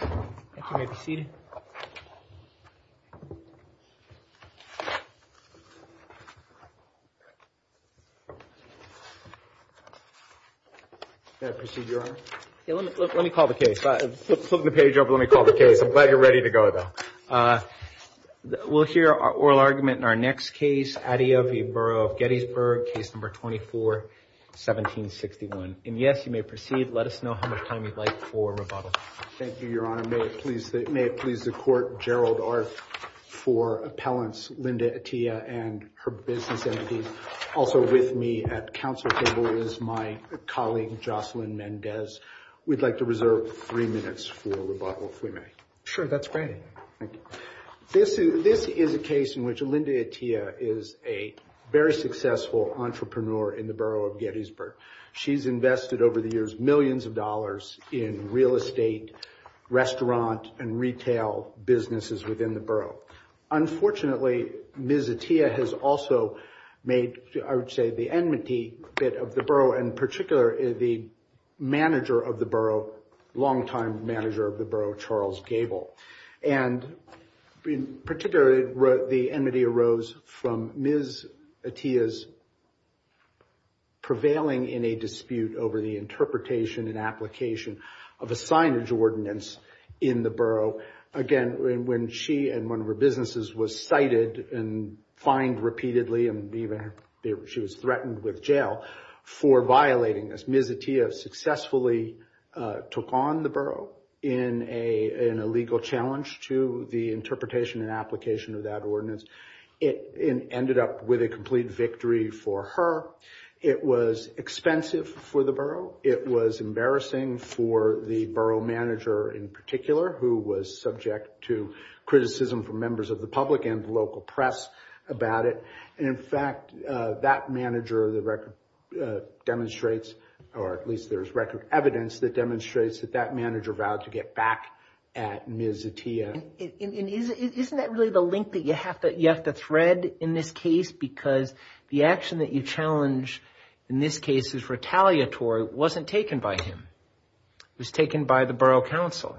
You may be seated. May I proceed, Your Honor? Let me call the case. I'm flipping the page over. Let me call the case. I'm glad you're ready to go, though. We'll hear oral argument in our next case, Atiyeh v. Borough of Gettysburg, case number 24-1761. And yes, you may proceed. Let us know how much time you'd like for rebuttal. Thank you, Your Honor. May it please the Court, Gerald Art for appellants, Linda Atiyeh and her business entities. Also with me at counsel table is my colleague, Jocelyn Mendez. We'd like to reserve three minutes for rebuttal, if we may. Sure, that's fine. Thank you. This is a case in which Linda Atiyeh is a very successful entrepreneur in the Borough of Gettysburg. She's invested over the years millions of dollars in real estate, restaurant, and retail businesses within the Borough. Unfortunately, Ms. Atiyeh has also made, I would say, the enmity of the Borough, in particular, the manager of the Borough, longtime manager of the Borough, Charles Gable. And in particular, the enmity arose from Ms. Atiyeh's prevailing in a dispute over the interpretation and application of a signage ordinance in the Borough. Again, when she and one of her businesses was cited and fined repeatedly, and even she was threatened with jail for violating this, Ms. Atiyeh successfully took on the Borough in a legal challenge to the interpretation and application of that ordinance. It ended up with a complete victory for her. It was expensive for the Borough. It was embarrassing for the Borough manager, in particular, who was subject to criticism from members of the public and the local press about it. In fact, that manager demonstrates, or at least there's record evidence that demonstrates that that manager vowed to get back at Ms. Atiyeh. Isn't that really the link that you have to thread in this case? Because the action that you challenge in this case is retaliatory. It wasn't taken by him. It was taken by the Borough Council.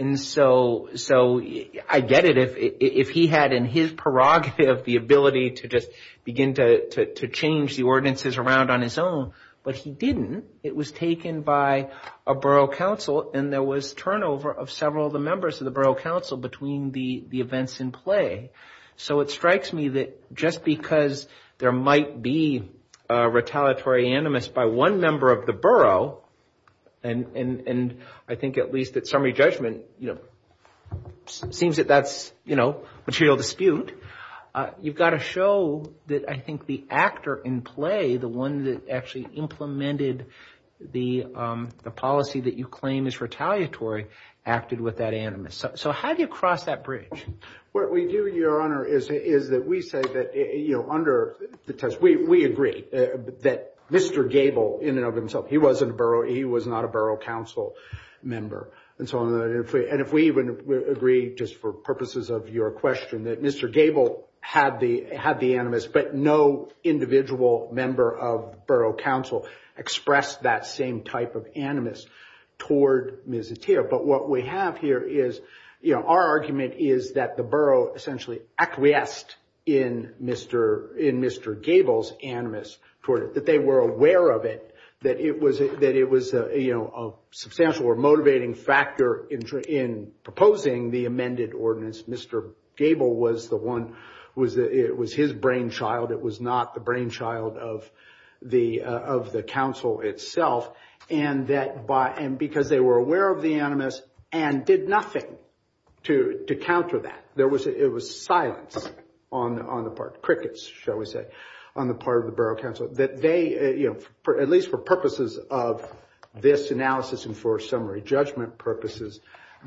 And so I get it if he had in his prerogative the ability to just begin to change the ordinances around on his own, but he didn't. It was taken by a Borough Council, and there was turnover of several of the members of the Borough Council between the events in play. So it strikes me that just because there might be a retaliatory animus by one member of the Borough, and I think at least at summary judgment, it seems that that's material dispute. You've got to show that I think the actor in play, the one that actually implemented the policy that you claim is retaliatory, acted with that animus. So how do you cross that bridge? What we do, Your Honor, is that we say that under the test we agree that Mr. Gable in and of himself, he was not a Borough Council member. And if we even agree, just for purposes of your question, that Mr. Gable had the animus but no individual member of Borough Council expressed that same type of animus toward Ms. Itiyeh. But what we have here is our argument is that the Borough essentially acquiesced in Mr. Gable's animus toward it, that they were aware of it, that it was a substantial or motivating factor in proposing the amended ordinance. Mr. Gable was the one, it was his brainchild. It was not the brainchild of the Council itself. And because they were aware of the animus and did nothing to counter that. It was silence on the part, crickets, shall we say, on the part of the Borough Council, that they, at least for purposes of this analysis and for summary judgment purposes,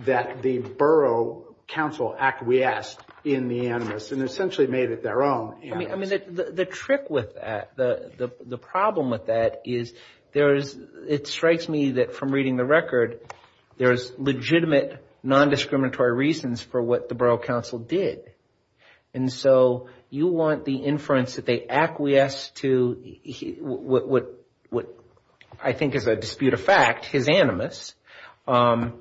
that the Borough Council acquiesced in the animus and essentially made it their own. I mean, the trick with that, the problem with that is there is, it strikes me that from reading the record, there is legitimate non-discriminatory reasons for what the Borough Council did. And so you want the inference that they acquiesced to what I think is a disputed fact, his animus, or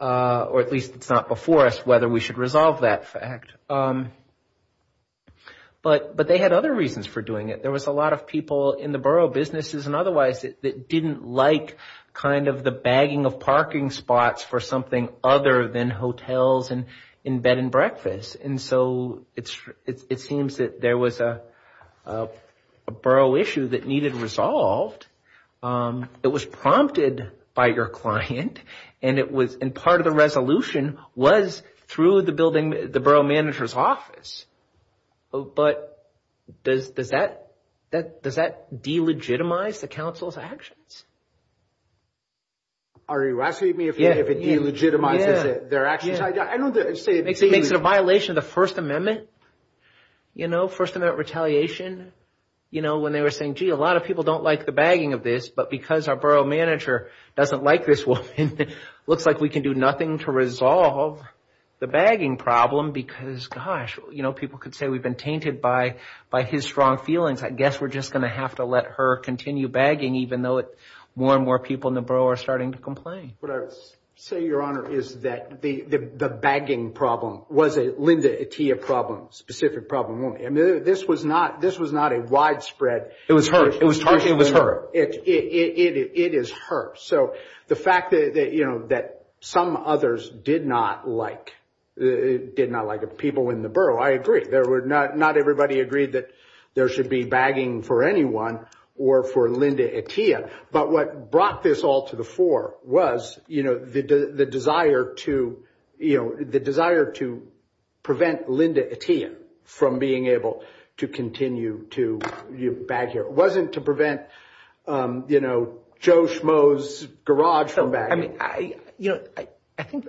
at least it's not before us whether we should resolve that fact. But they had other reasons for doing it. There was a lot of people in the borough businesses and otherwise that didn't like kind of the bagging of parking spots for something other than hotels and bed and breakfast. And so it seems that there was a borough issue that needed resolved. It was prompted by your client. And part of the resolution was through the building, the borough manager's office. But does that delegitimize the council's actions? Are you asking me if it delegitimizes their actions? It makes it a violation of the First Amendment, you know, First Amendment retaliation. You know, when they were saying, gee, a lot of people don't like the bagging of this, but because our borough manager doesn't like this woman, it looks like we can do nothing to resolve the bagging problem because, gosh, you know, people could say we've been tainted by his strong feelings. I guess we're just going to have to let her continue bagging, even though more and more people in the borough are starting to complain. What I say, Your Honor, is that the bagging problem was a Linda Atiyah problem, specific problem. I mean, this was not a widespread. It was her. It was her. It was her. It is her. So the fact that, you know, that some others did not like, did not like people in the borough, I agree. Not everybody agreed that there should be bagging for anyone or for Linda Atiyah. But what brought this all to the fore was, you know, the desire to, you know, the desire to prevent Linda Atiyah from being able to continue to bag here. It wasn't to prevent, you know, Joe Schmoe's garage from bagging. I mean, you know,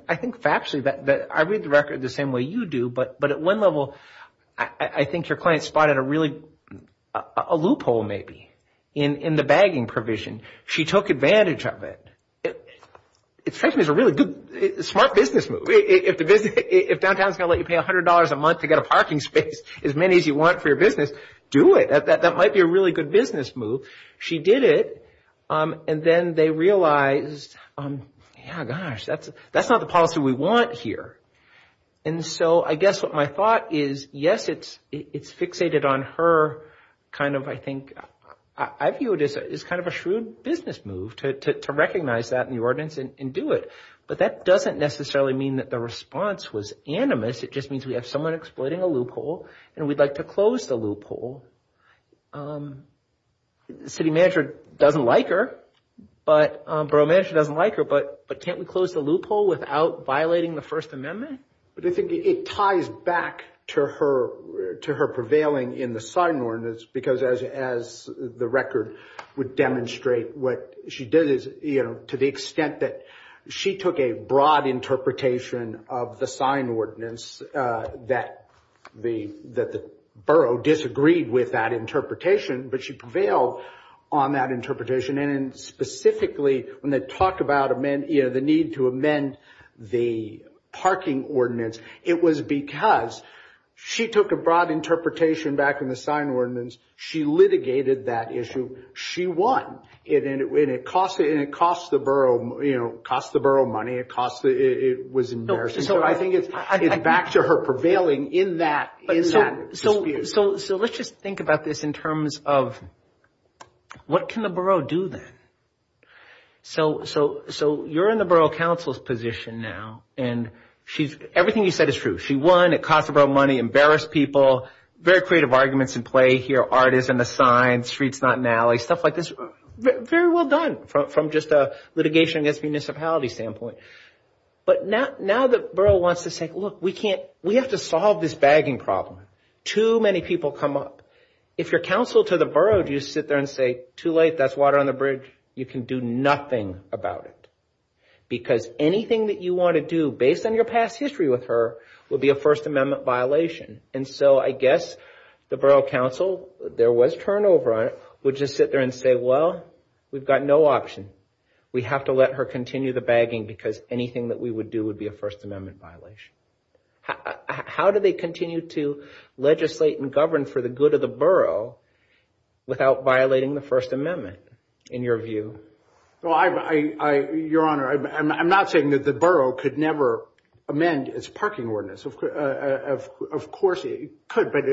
I think factually that I read the record the same way you do, but at one level, I think your client spotted a really, a loophole maybe in the bagging provision. She took advantage of it. It's a really good smart business move. If downtown is going to let you pay $100 a month to get a parking space, as many as you want for your business, do it. That might be a really good business move. She did it and then they realized, yeah, gosh, that's not the policy we want here. And so I guess what my thought is, yes, it's fixated on her kind of, I think, I view it as kind of a shrewd business move to recognize that in the ordinance and do it. But that doesn't necessarily mean that the response was animus. It just means we have someone exploiting a loophole and we'd like to close the loophole. The city manager doesn't like her, the borough manager doesn't like her, but can't we close the loophole without violating the First Amendment? But I think it ties back to her prevailing in the sign ordinance, because as the record would demonstrate, what she did is to the extent that she took a broad interpretation of the sign ordinance that the borough disagreed with that interpretation, but she prevailed on that interpretation. And specifically when they talk about the need to amend the parking ordinance, it was because she took a broad interpretation back in the sign ordinance. She litigated that issue. She won. And it cost the borough money. It was embarrassing. So I think it's back to her prevailing in that dispute. So let's just think about this in terms of what can the borough do then? So you're in the borough council's position now, and everything you said is true. She won. It cost the borough money. Embarrassed people. Very creative arguments in play here. Art is in the sign. Street's not an alley. Stuff like this. Very well done from just a litigation against municipality standpoint. But now the borough wants to say, look, we have to solve this bagging problem. Too many people come up. If you're council to the borough, do you sit there and say, too late, that's water on the bridge? You can do nothing about it. Because anything that you want to do, based on your past history with her, would be a First Amendment violation. And so I guess the borough council, there was turnover on it, would just sit there and say, well, we've got no option. We have to let her continue the bagging because anything that we would do would be a First Amendment violation. How do they continue to legislate and govern for the good of the borough without violating the First Amendment, in your view? Well, Your Honor, I'm not saying that the borough could never amend its parking ordinance. Of course it could, but,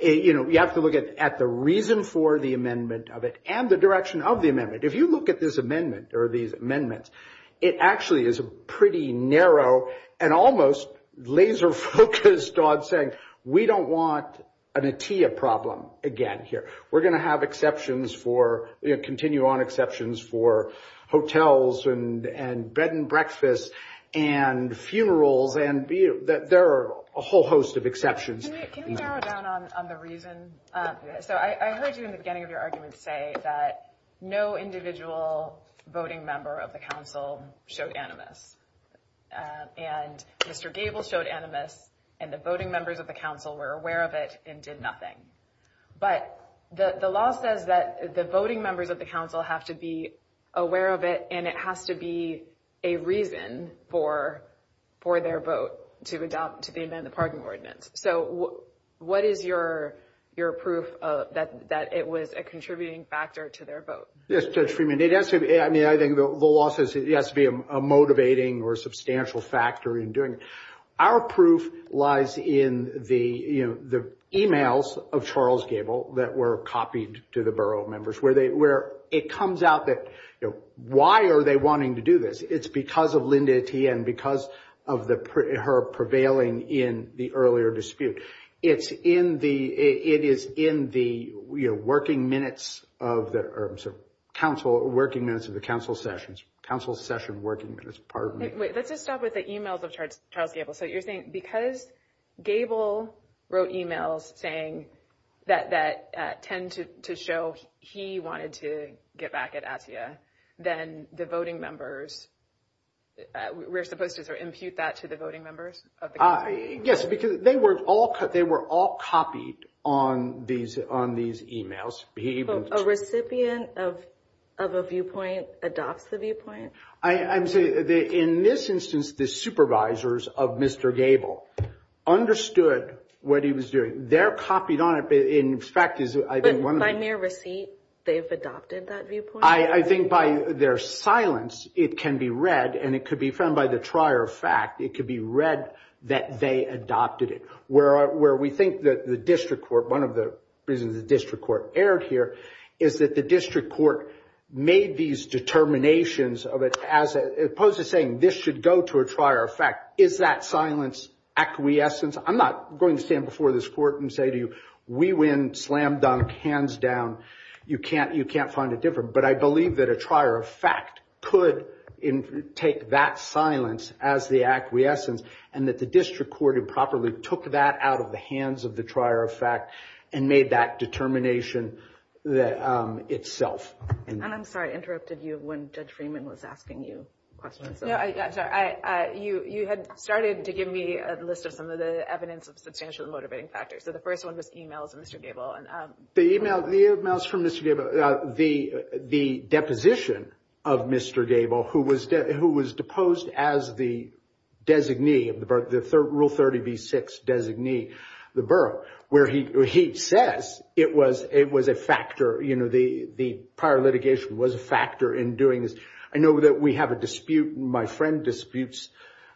you know, you have to look at the reason for the amendment of it and the direction of the amendment. If you look at this amendment or these amendments, it actually is a pretty narrow and almost laser focused on saying, we don't want an ATIA problem again here. We're going to have exceptions for, you know, continue on exceptions for hotels and bed and breakfasts and funerals. And there are a whole host of exceptions. Can we narrow down on the reason? So I heard you in the beginning of your argument say that no individual voting member of the council showed animus. And Mr. Gable showed animus, and the voting members of the council were aware of it and did nothing. But the law says that the voting members of the council have to be aware of it, and it has to be a reason for their vote to amend the parking ordinance. So what is your proof that it was a contributing factor to their vote? Yes, Judge Freeman. I mean, I think the law says it has to be a motivating or substantial factor in doing it. Our proof lies in the, you know, the emails of Charles Gable that were copied to the borough members, where it comes out that, you know, why are they wanting to do this? It's because of Linda Etienne, because of her prevailing in the earlier dispute. It is in the working minutes of the council sessions, council session working minutes. Wait, let's just stop with the emails of Charles Gable. So you're saying because Gable wrote emails saying that tend to show he wanted to get back at ATIA, then the voting members, we're supposed to sort of impute that to the voting members of the council? Yes, because they were all copied on these emails. A recipient of a viewpoint adopts the viewpoint? I'm saying in this instance, the supervisors of Mr. Gable understood what he was doing. They're copied on it, but in fact is, I think, one of them. But by mere receipt, they've adopted that viewpoint? I think by their silence, it can be read, and it could be found by the trier of fact. It could be read that they adopted it. Where we think that the district court, one of the reasons the district court erred here, is that the district court made these determinations of it as opposed to saying this should go to a trier of fact. Is that silence acquiescence? I'm not going to stand before this court and say to you, we win, slam dunk, hands down. You can't find it different. But I believe that a trier of fact could take that silence as the acquiescence and that the district court improperly took that out of the hands of the trier of fact and made that determination itself. And I'm sorry I interrupted you when Judge Freeman was asking you questions. You had started to give me a list of some of the evidence of substantial motivating factors. So the first one was emails of Mr. Gable. The emails from Mr. Gable, the deposition of Mr. Gable, who was deposed as the rule 30b-6 designee of the borough, where he says it was a factor, you know, the prior litigation was a factor in doing this. I know that we have a dispute, my friend disputes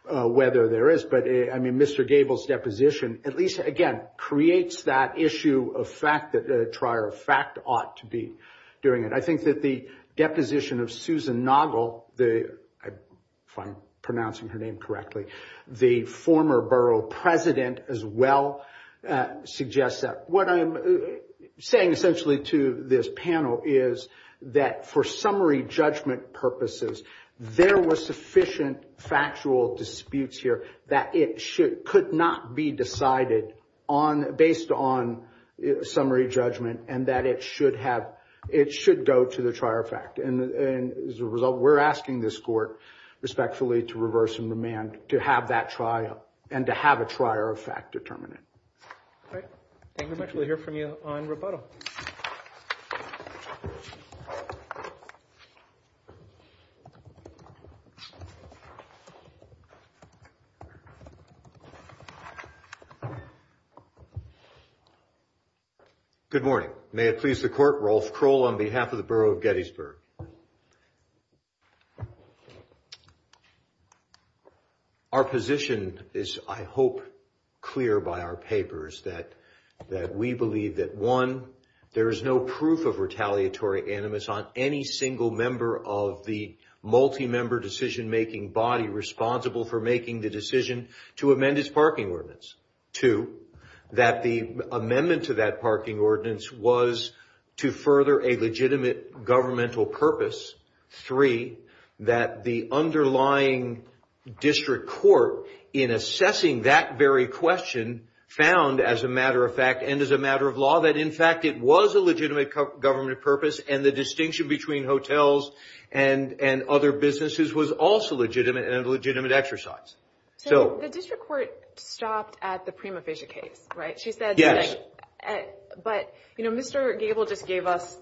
whether there is, but, I mean, Mr. Gable's deposition at least, again, creates that issue of fact that a trier of fact ought to be doing it. I think that the deposition of Susan Noggle, if I'm pronouncing her name correctly, the former borough president as well, suggests that. What I'm saying essentially to this panel is that for summary judgment purposes, there were sufficient factual disputes here that it could not be decided based on summary judgment and that it should go to the trier of fact. And as a result, we're asking this court, respectfully, to reverse and remand to have that trial and to have a trier of fact determined. All right. Thank you very much. We'll hear from you on rebuttal. Good morning. May it please the court, Rolf Kroll on behalf of the borough of Gettysburg. Our position is, I hope, clear by our papers, that we believe that, one, there is no proof of retaliatory animus on any single member of the multi-member decision-making body responsible for making the decision to amend its parking ordinance. Two, that the amendment to that parking ordinance was to further a legitimate governmental process Three, that the underlying district court, in assessing that very question, found, as a matter of fact and as a matter of law, that, in fact, it was a legitimate government purpose and the distinction between hotels and other businesses was also legitimate and a legitimate exercise. So the district court stopped at the prima facie case, right? Yes. But, you know, Mr. Gable just gave us,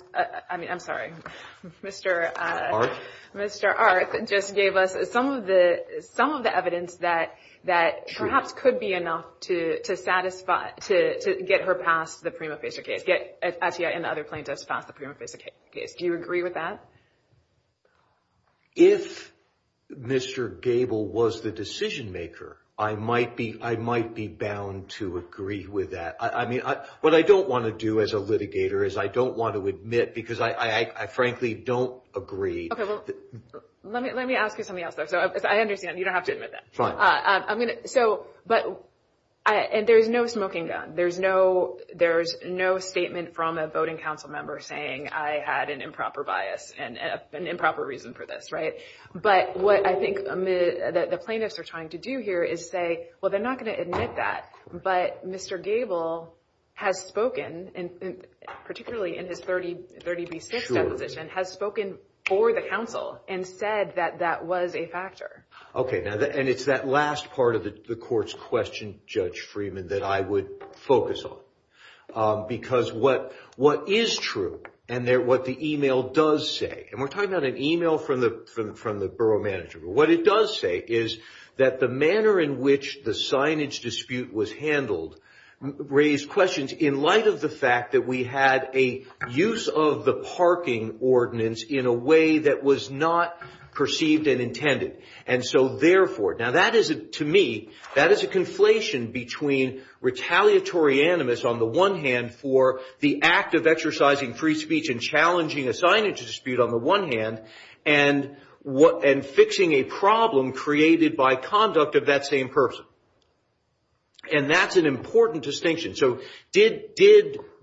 I mean, I'm sorry, Mr. Arth just gave us some of the evidence that perhaps could be enough to satisfy, to get her past the prima facie case, get Atiyah and the other plaintiffs past the prima facie case. Do you agree with that? If Mr. Gable was the decision-maker, I might be bound to agree with that. I mean, what I don't want to do as a litigator is I don't want to admit, because I frankly don't agree. Okay, well, let me ask you something else, though. So I understand you don't have to admit that. I'm going to, so, but, and there's no smoking gun. There's no statement from a voting council member saying I had an improper bias and an improper reason for this, right? But what I think the plaintiffs are trying to do here is say, well, they're not going to admit that. But Mr. Gable has spoken, particularly in his 30B6 deposition, has spoken for the council and said that that was a factor. Okay, and it's that last part of the court's question, Judge Freeman, that I would focus on. Because what is true and what the email does say, and we're talking about an email from the borough manager, what it does say is that the manner in which the signage dispute was handled raised questions in light of the fact that we had a use of the parking ordinance in a way that was not perceived and intended. And so, therefore, now that is, to me, that is a conflation between retaliatory animus on the one hand for the act of exercising free speech and challenging a signage dispute on the one hand and fixing a problem created by conduct of that same person. And that's an important distinction. So did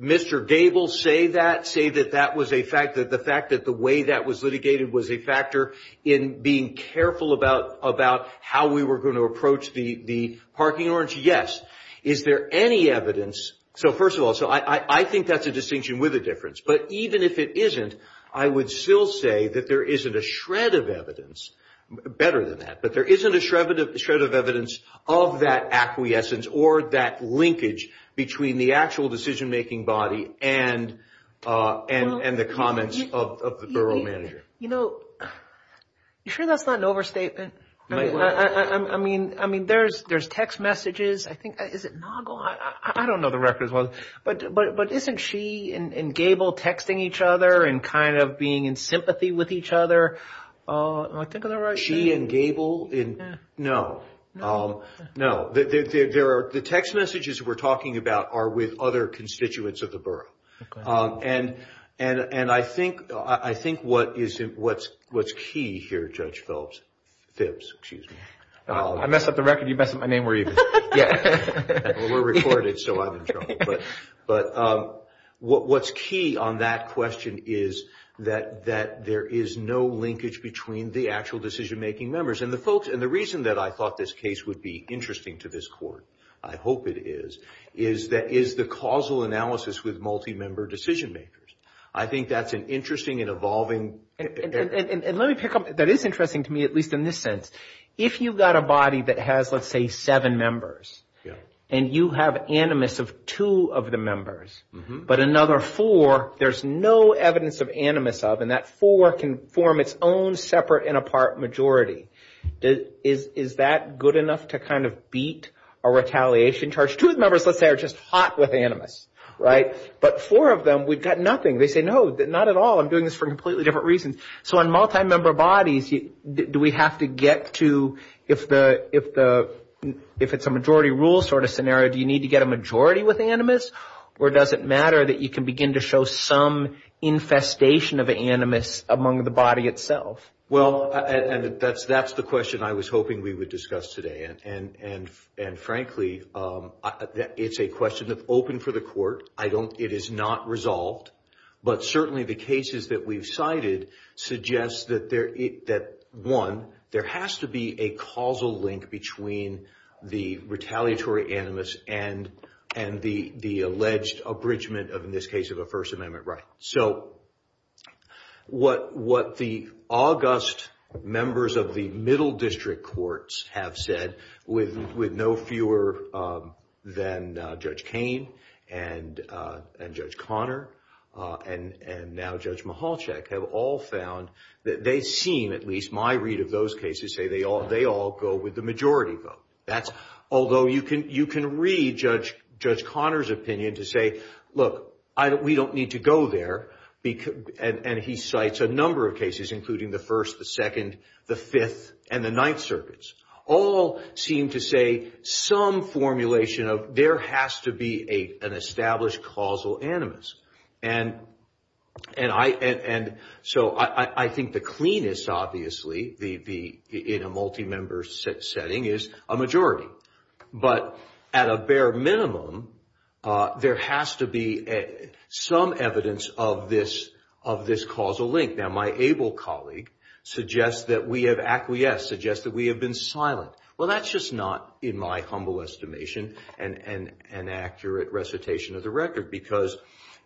Mr. Gable say that, say that that was a fact, that the fact that the way that was litigated was a factor in being careful about how we were going to approach the parking ordinance? Yes. Is there any evidence? So, first of all, I think that's a distinction with a difference. But even if it isn't, I would still say that there isn't a shred of evidence, better than that, but there isn't a shred of evidence of that acquiescence or that linkage between the actual decision-making body and the comments of the borough manager. You know, you sure that's not an overstatement? I mean, there's text messages. I think, is it Naugle? I don't know the record as well. But isn't she and Gable texting each other and kind of being in sympathy with each other? Am I thinking of the right name? She and Gable? No. No. The text messages we're talking about are with other constituents of the borough. And I think what's key here, Judge Phillips, Phibbs, excuse me. I messed up the record. You messed up my name. Well, we're recorded, so I'm in trouble. But what's key on that question is that there is no linkage between the actual decision-making members. And the reason that I thought this case would be interesting to this Court, I hope it is, is that is the causal analysis with multi-member decision-makers. I think that's an interesting and evolving. And let me pick up. That is interesting to me, at least in this sense. If you've got a body that has, let's say, seven members, and you have animus of two of the members, but another four there's no evidence of animus of, and that four can form its own separate and apart majority, is that good enough to kind of beat a retaliation charge? Two of the members, let's say, are just hot with animus, right? But four of them, we've got nothing. They say, no, not at all. I'm doing this for completely different reasons. So on multi-member bodies, do we have to get to, if it's a majority rule sort of scenario, do you need to get a majority with animus, or does it matter that you can begin to show some infestation of animus among the body itself? Well, that's the question I was hoping we would discuss today. And, frankly, it's a question that's open for the Court. It is not resolved. But certainly the cases that we've cited suggest that, one, there has to be a causal link between the retaliatory animus and the alleged abridgment of, in this case, of a First Amendment right. So what the august members of the Middle District Courts have said, with no fewer than Judge Kain and Judge Conner and now Judge Michalczyk, have all found that they seem, at least my read of those cases, say they all go with the majority vote. Although you can read Judge Conner's opinion to say, look, we don't need to go there. And he cites a number of cases, including the First, the Second, the Fifth, and the Ninth Circuits. All seem to say some formulation of there has to be an established causal animus. And so I think the cleanest, obviously, in a multi-member setting, is a majority. But at a bare minimum, there has to be some evidence of this causal link. Now, my able colleague suggests that we have acquiesced, suggests that we have been silent. Well, that's just not, in my humble estimation, an accurate recitation of the record. Because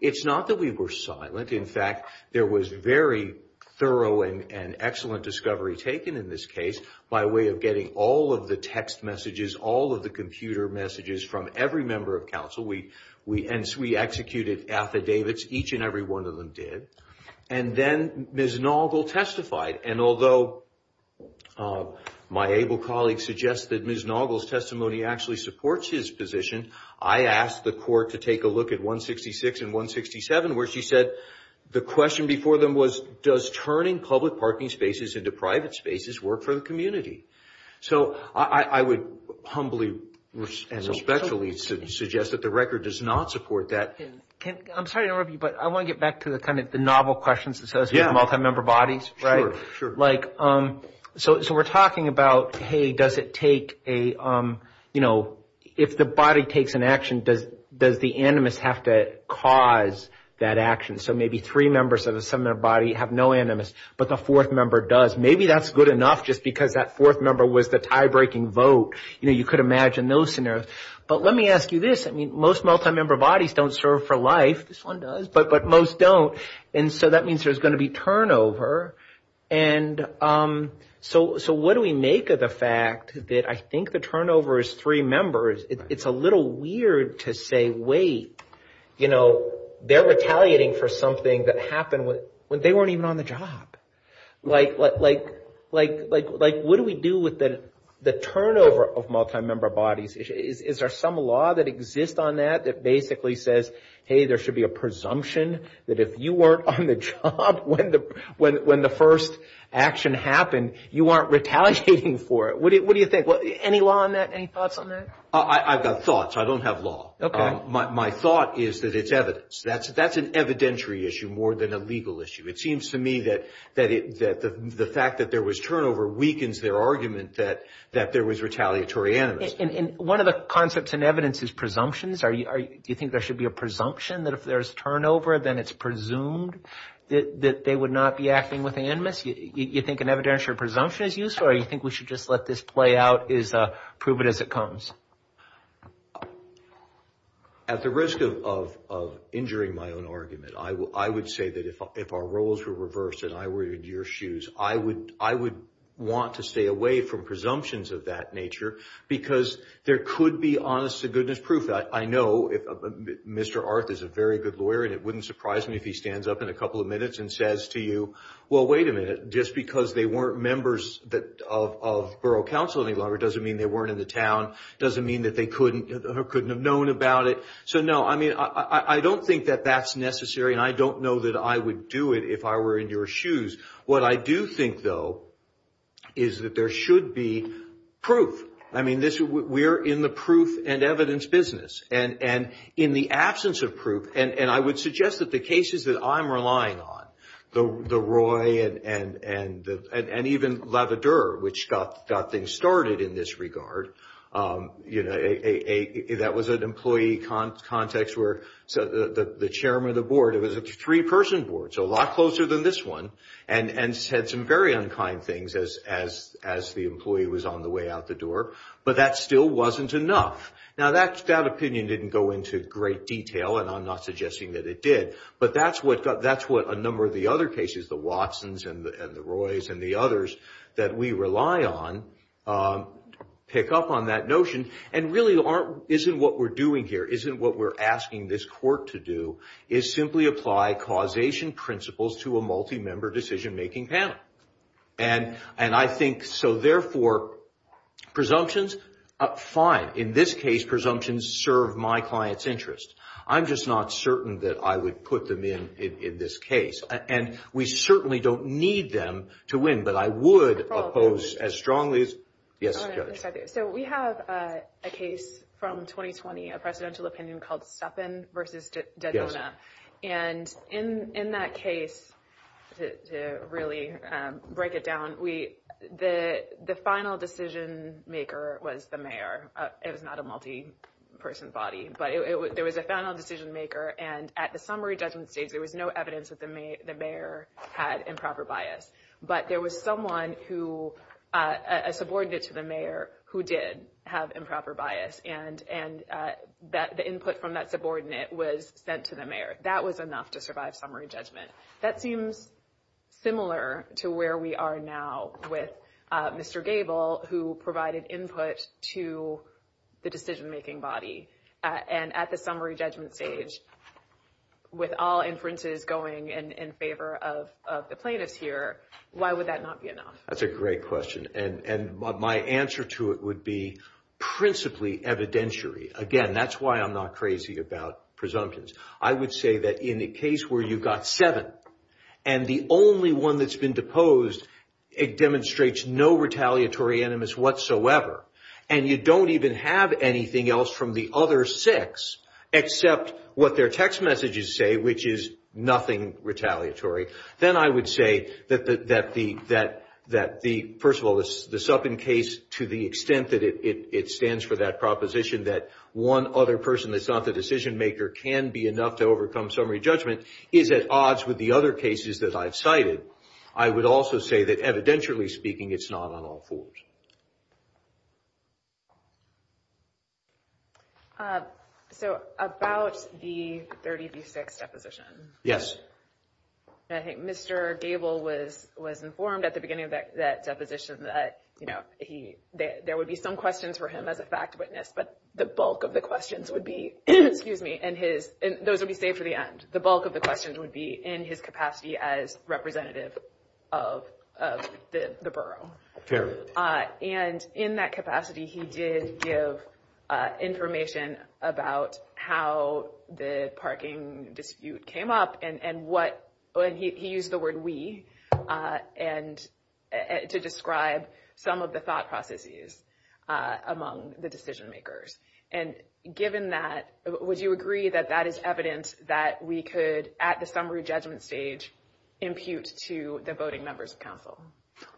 it's not that we were silent. In fact, there was very thorough and excellent discovery taken in this case by way of getting all of the text messages, all of the computer messages from every member of counsel. And we executed affidavits. Each and every one of them did. And then Ms. Naugle testified. And although my able colleague suggests that Ms. Naugle's testimony actually supports his position, I asked the court to take a look at 166 and 167, where she said the question before them was, does turning public parking spaces into private spaces work for the community? So I would humbly and respectfully suggest that the record does not support that. I'm sorry to interrupt you, but I want to get back to the kind of the novel questions that says multi-member bodies. Like, so we're talking about, hey, does it take a, you know, if the body takes an action, does the animus have to cause that action? So maybe three members of a similar body have no animus, but the fourth member does. Maybe that's good enough just because that fourth member was the tie-breaking vote. You know, you could imagine those scenarios. But let me ask you this. I mean, most multi-member bodies don't serve for life. This one does. But most don't. And so that means there's going to be turnover. And so what do we make of the fact that I think the turnover is three members? It's a little weird to say, wait, you know, they're retaliating for something that happened when they weren't even on the job. Like, what do we do with the turnover of multi-member bodies? Is there some law that exists on that that basically says, hey, there should be a presumption that if you weren't on the job when the first action happened, you aren't retaliating for it? What do you think? Any law on that? Any thoughts on that? I've got thoughts. I don't have law. Okay. My thought is that it's evidence. That's an evidentiary issue more than a legal issue. It seems to me that the fact that there was turnover weakens their argument that there was retaliatory animus. And one of the concepts in evidence is presumptions. Do you think there should be a presumption that if there's turnover, then it's presumed that they would not be acting with animus? Do you think an evidentiary presumption is useful, or do you think we should just let this play out, prove it as it comes? At the risk of injuring my own argument, I would say that if our roles were reversed and I were in your shoes, I would want to stay away from presumptions of that nature because there could be honest-to-goodness proof. I know Mr. Arth is a very good lawyer, and it wouldn't surprise me if he stands up in a couple of minutes and says to you, well, wait a minute, just because they weren't members of borough council any longer doesn't mean they weren't in the town, doesn't mean that they couldn't have known about it. So, no, I mean, I don't think that that's necessary, and I don't know that I would do it if I were in your shoes. What I do think, though, is that there should be proof. I mean, we're in the proof and evidence business, and in the absence of proof, and I would suggest that the cases that I'm relying on, the Roy and even Lavadour, which got things started in this regard, that was an employee context where the chairman of the board, it was a three-person board, so a lot closer than this one, and said some very unkind things as the employee was on the way out the door, but that still wasn't enough. Now, that opinion didn't go into great detail, and I'm not suggesting that it did, but that's what a number of the other cases, the Watsons and the Roys and the others that we rely on pick up on that notion, and really isn't what we're doing here, isn't what we're asking this court to do, is simply apply causation principles to a multi-member decision-making panel. And I think, so therefore, presumptions, fine. In this case, presumptions serve my client's interest. I'm just not certain that I would put them in in this case, and we certainly don't need them to win, but I would oppose as strongly as – yes, Judge. Yes, I do. So we have a case from 2020, a presidential opinion called Stepin v. Dedona. And in that case, to really break it down, the final decision-maker was the mayor. It was not a multi-person body, but there was a final decision-maker, and at the summary judgment stage there was no evidence that the mayor had improper bias, but there was someone who – a subordinate to the mayor who did have improper bias, and the input from that subordinate was sent to the mayor. That was enough to survive summary judgment. That seems similar to where we are now with Mr. Gable, who provided input to the decision-making body. And at the summary judgment stage, with all inferences going in favor of the plaintiffs here, why would that not be enough? That's a great question, and my answer to it would be principally evidentiary. Again, that's why I'm not crazy about presumptions. I would say that in a case where you've got seven and the only one that's been deposed, it demonstrates no retaliatory animus whatsoever, and you don't even have anything else from the other six except what their text messages say, which is nothing retaliatory. Then I would say that, first of all, the Suppen case, to the extent that it stands for that proposition, that one other person that's not the decision-maker can be enough to overcome summary judgment, is at odds with the other cases that I've cited. I would also say that, evidentially speaking, it's not on all fours. So about the 30 v. 6 deposition. Yes. I think Mr. Gable was informed at the beginning of that deposition that, you know, there would be some questions for him as a fact witness, but the bulk of the questions would be, and those would be saved for the end. The bulk of the questions would be in his capacity as representative of the borough. And in that capacity, he did give information about how the parking dispute came up, and he used the word we to describe some of the thought processes among the decision-makers. And given that, would you agree that that is evidence that we could, at the summary judgment stage, impute to the voting members of counsel?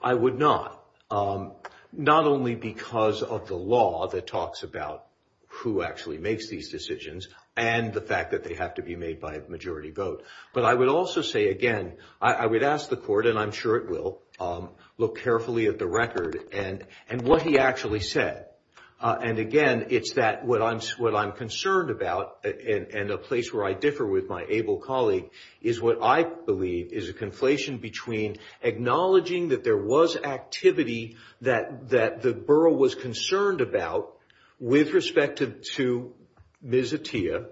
I would not. Not only because of the law that talks about who actually makes these decisions and the fact that they have to be made by a majority vote, but I would also say, again, I would ask the court, and I'm sure it will, look carefully at the record and what he actually said. And, again, it's that what I'm concerned about, and a place where I differ with my able colleague, is what I believe is a conflation between acknowledging that there was activity that the borough was concerned about with respect to Ms. Atiyah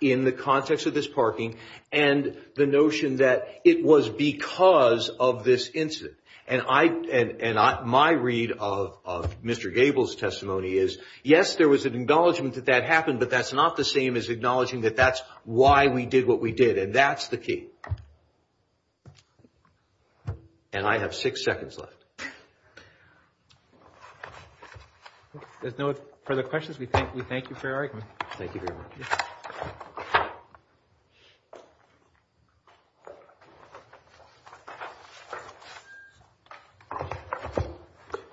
in the context of this parking and the notion that it was because of this incident. And my read of Mr. Gable's testimony is, yes, there was an acknowledgment that that happened, but that's not the same as acknowledging that that's why we did what we did, and that's the key. And I have six seconds left. If there's no further questions, we thank you for your argument. Thank you very much.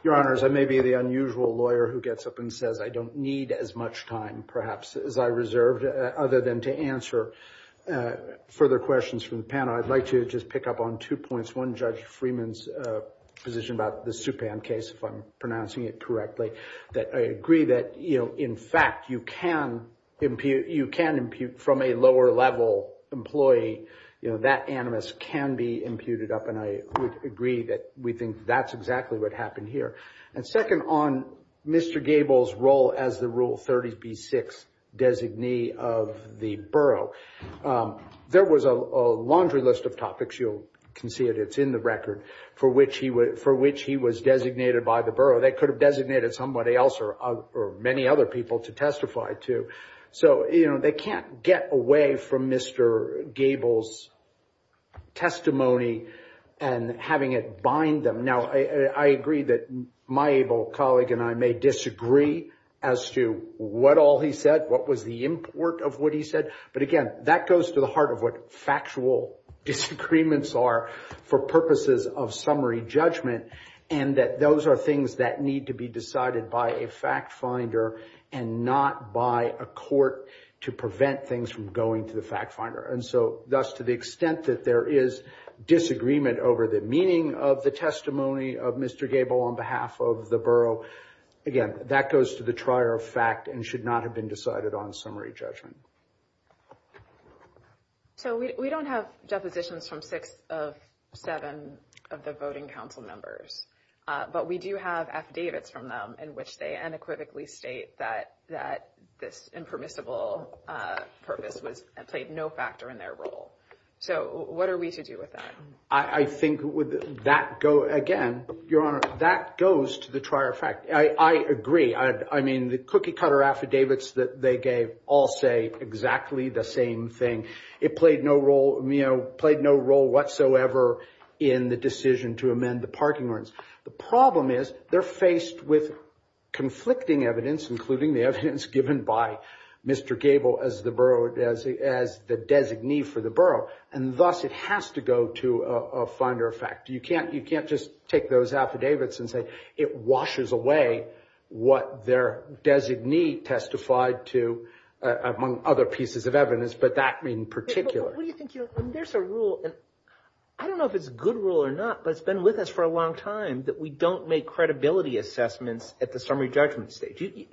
Your Honors, I may be the unusual lawyer who gets up and says I don't need as much time, perhaps, as I reserved, other than to answer further questions from the panel. I'd like to just pick up on two points. One, Judge Freeman's position about the Supan case, if I'm pronouncing it correctly, that I agree that, in fact, you can impute from a lower-level employee, that animus can be imputed up, and I would agree that we think that's exactly what happened here. And second, on Mr. Gable's role as the Rule 30b-6 designee of the borough, there was a laundry list of topics, you can see it, it's in the record, for which he was designated by the borough. They could have designated somebody else or many other people to testify to. So, you know, they can't get away from Mr. Gable's testimony and having it bind them. Now, I agree that my able colleague and I may disagree as to what all he said, what was the import of what he said, but, again, that goes to the heart of what factual disagreements are for purposes of summary judgment, and that those are things that need to be decided by a fact finder and not by a court to prevent things from going to the fact finder. And so, thus, to the extent that there is disagreement over the meaning of the testimony of Mr. Gable on behalf of the borough, again, that goes to the trier of fact and should not have been decided on summary judgment. So we don't have depositions from six of seven of the voting council members, but we do have affidavits from them in which they unequivocally state that this impermissible purpose played no factor in their role. So what are we to do with that? I think that goes, again, Your Honor, that goes to the trier of fact. I agree. I mean, the cookie-cutter affidavits that they gave all say exactly the same thing. It played no role whatsoever in the decision to amend the parking rights. The problem is they're faced with conflicting evidence, including the evidence given by Mr. Gable as the designee for the borough, and, thus, it has to go to a finder of fact. You can't just take those affidavits and say it washes away what their designee testified to, among other pieces of evidence, but that being particular. What do you think, Your Honor? I mean, there's a rule, and I don't know if it's a good rule or not, but it's been with us for a long time that we don't make credibility assessments at the summary judgment stage. It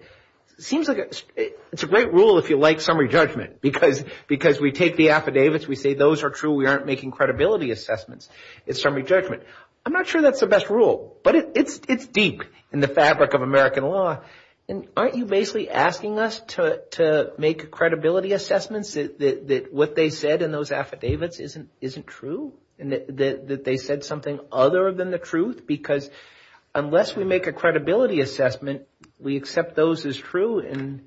seems like it's a great rule if you like summary judgment because we take the affidavits, we say those are true, we aren't making credibility assessments. It's summary judgment. I'm not sure that's the best rule, but it's deep in the fabric of American law, and aren't you basically asking us to make credibility assessments that what they said in those affidavits isn't true and that they said something other than the truth? Because unless we make a credibility assessment, we accept those as true, and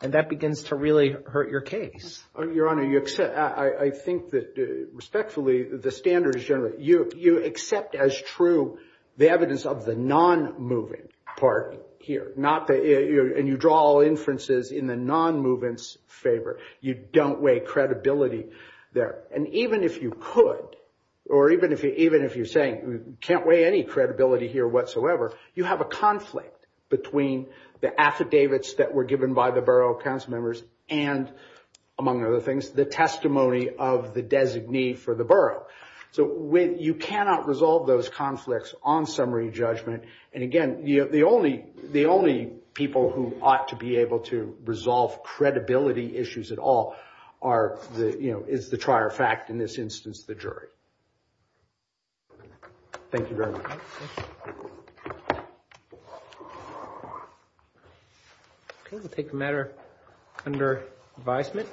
that begins to really hurt your case. Your Honor, I think that respectfully, the standard is generally, you accept as true the evidence of the non-movement part here, and you draw all inferences in the non-movement's favor. You don't weigh credibility there. And even if you could, or even if you're saying you can't weigh any credibility here whatsoever, you have a conflict between the affidavits that were given by the borough council members and, among other things, the testimony of the designee for the borough. So you cannot resolve those conflicts on summary judgment, and again the only people who ought to be able to resolve credibility issues at all is the trier fact, in this instance the jury. Thank you very much. Okay, we'll take a matter under advisement.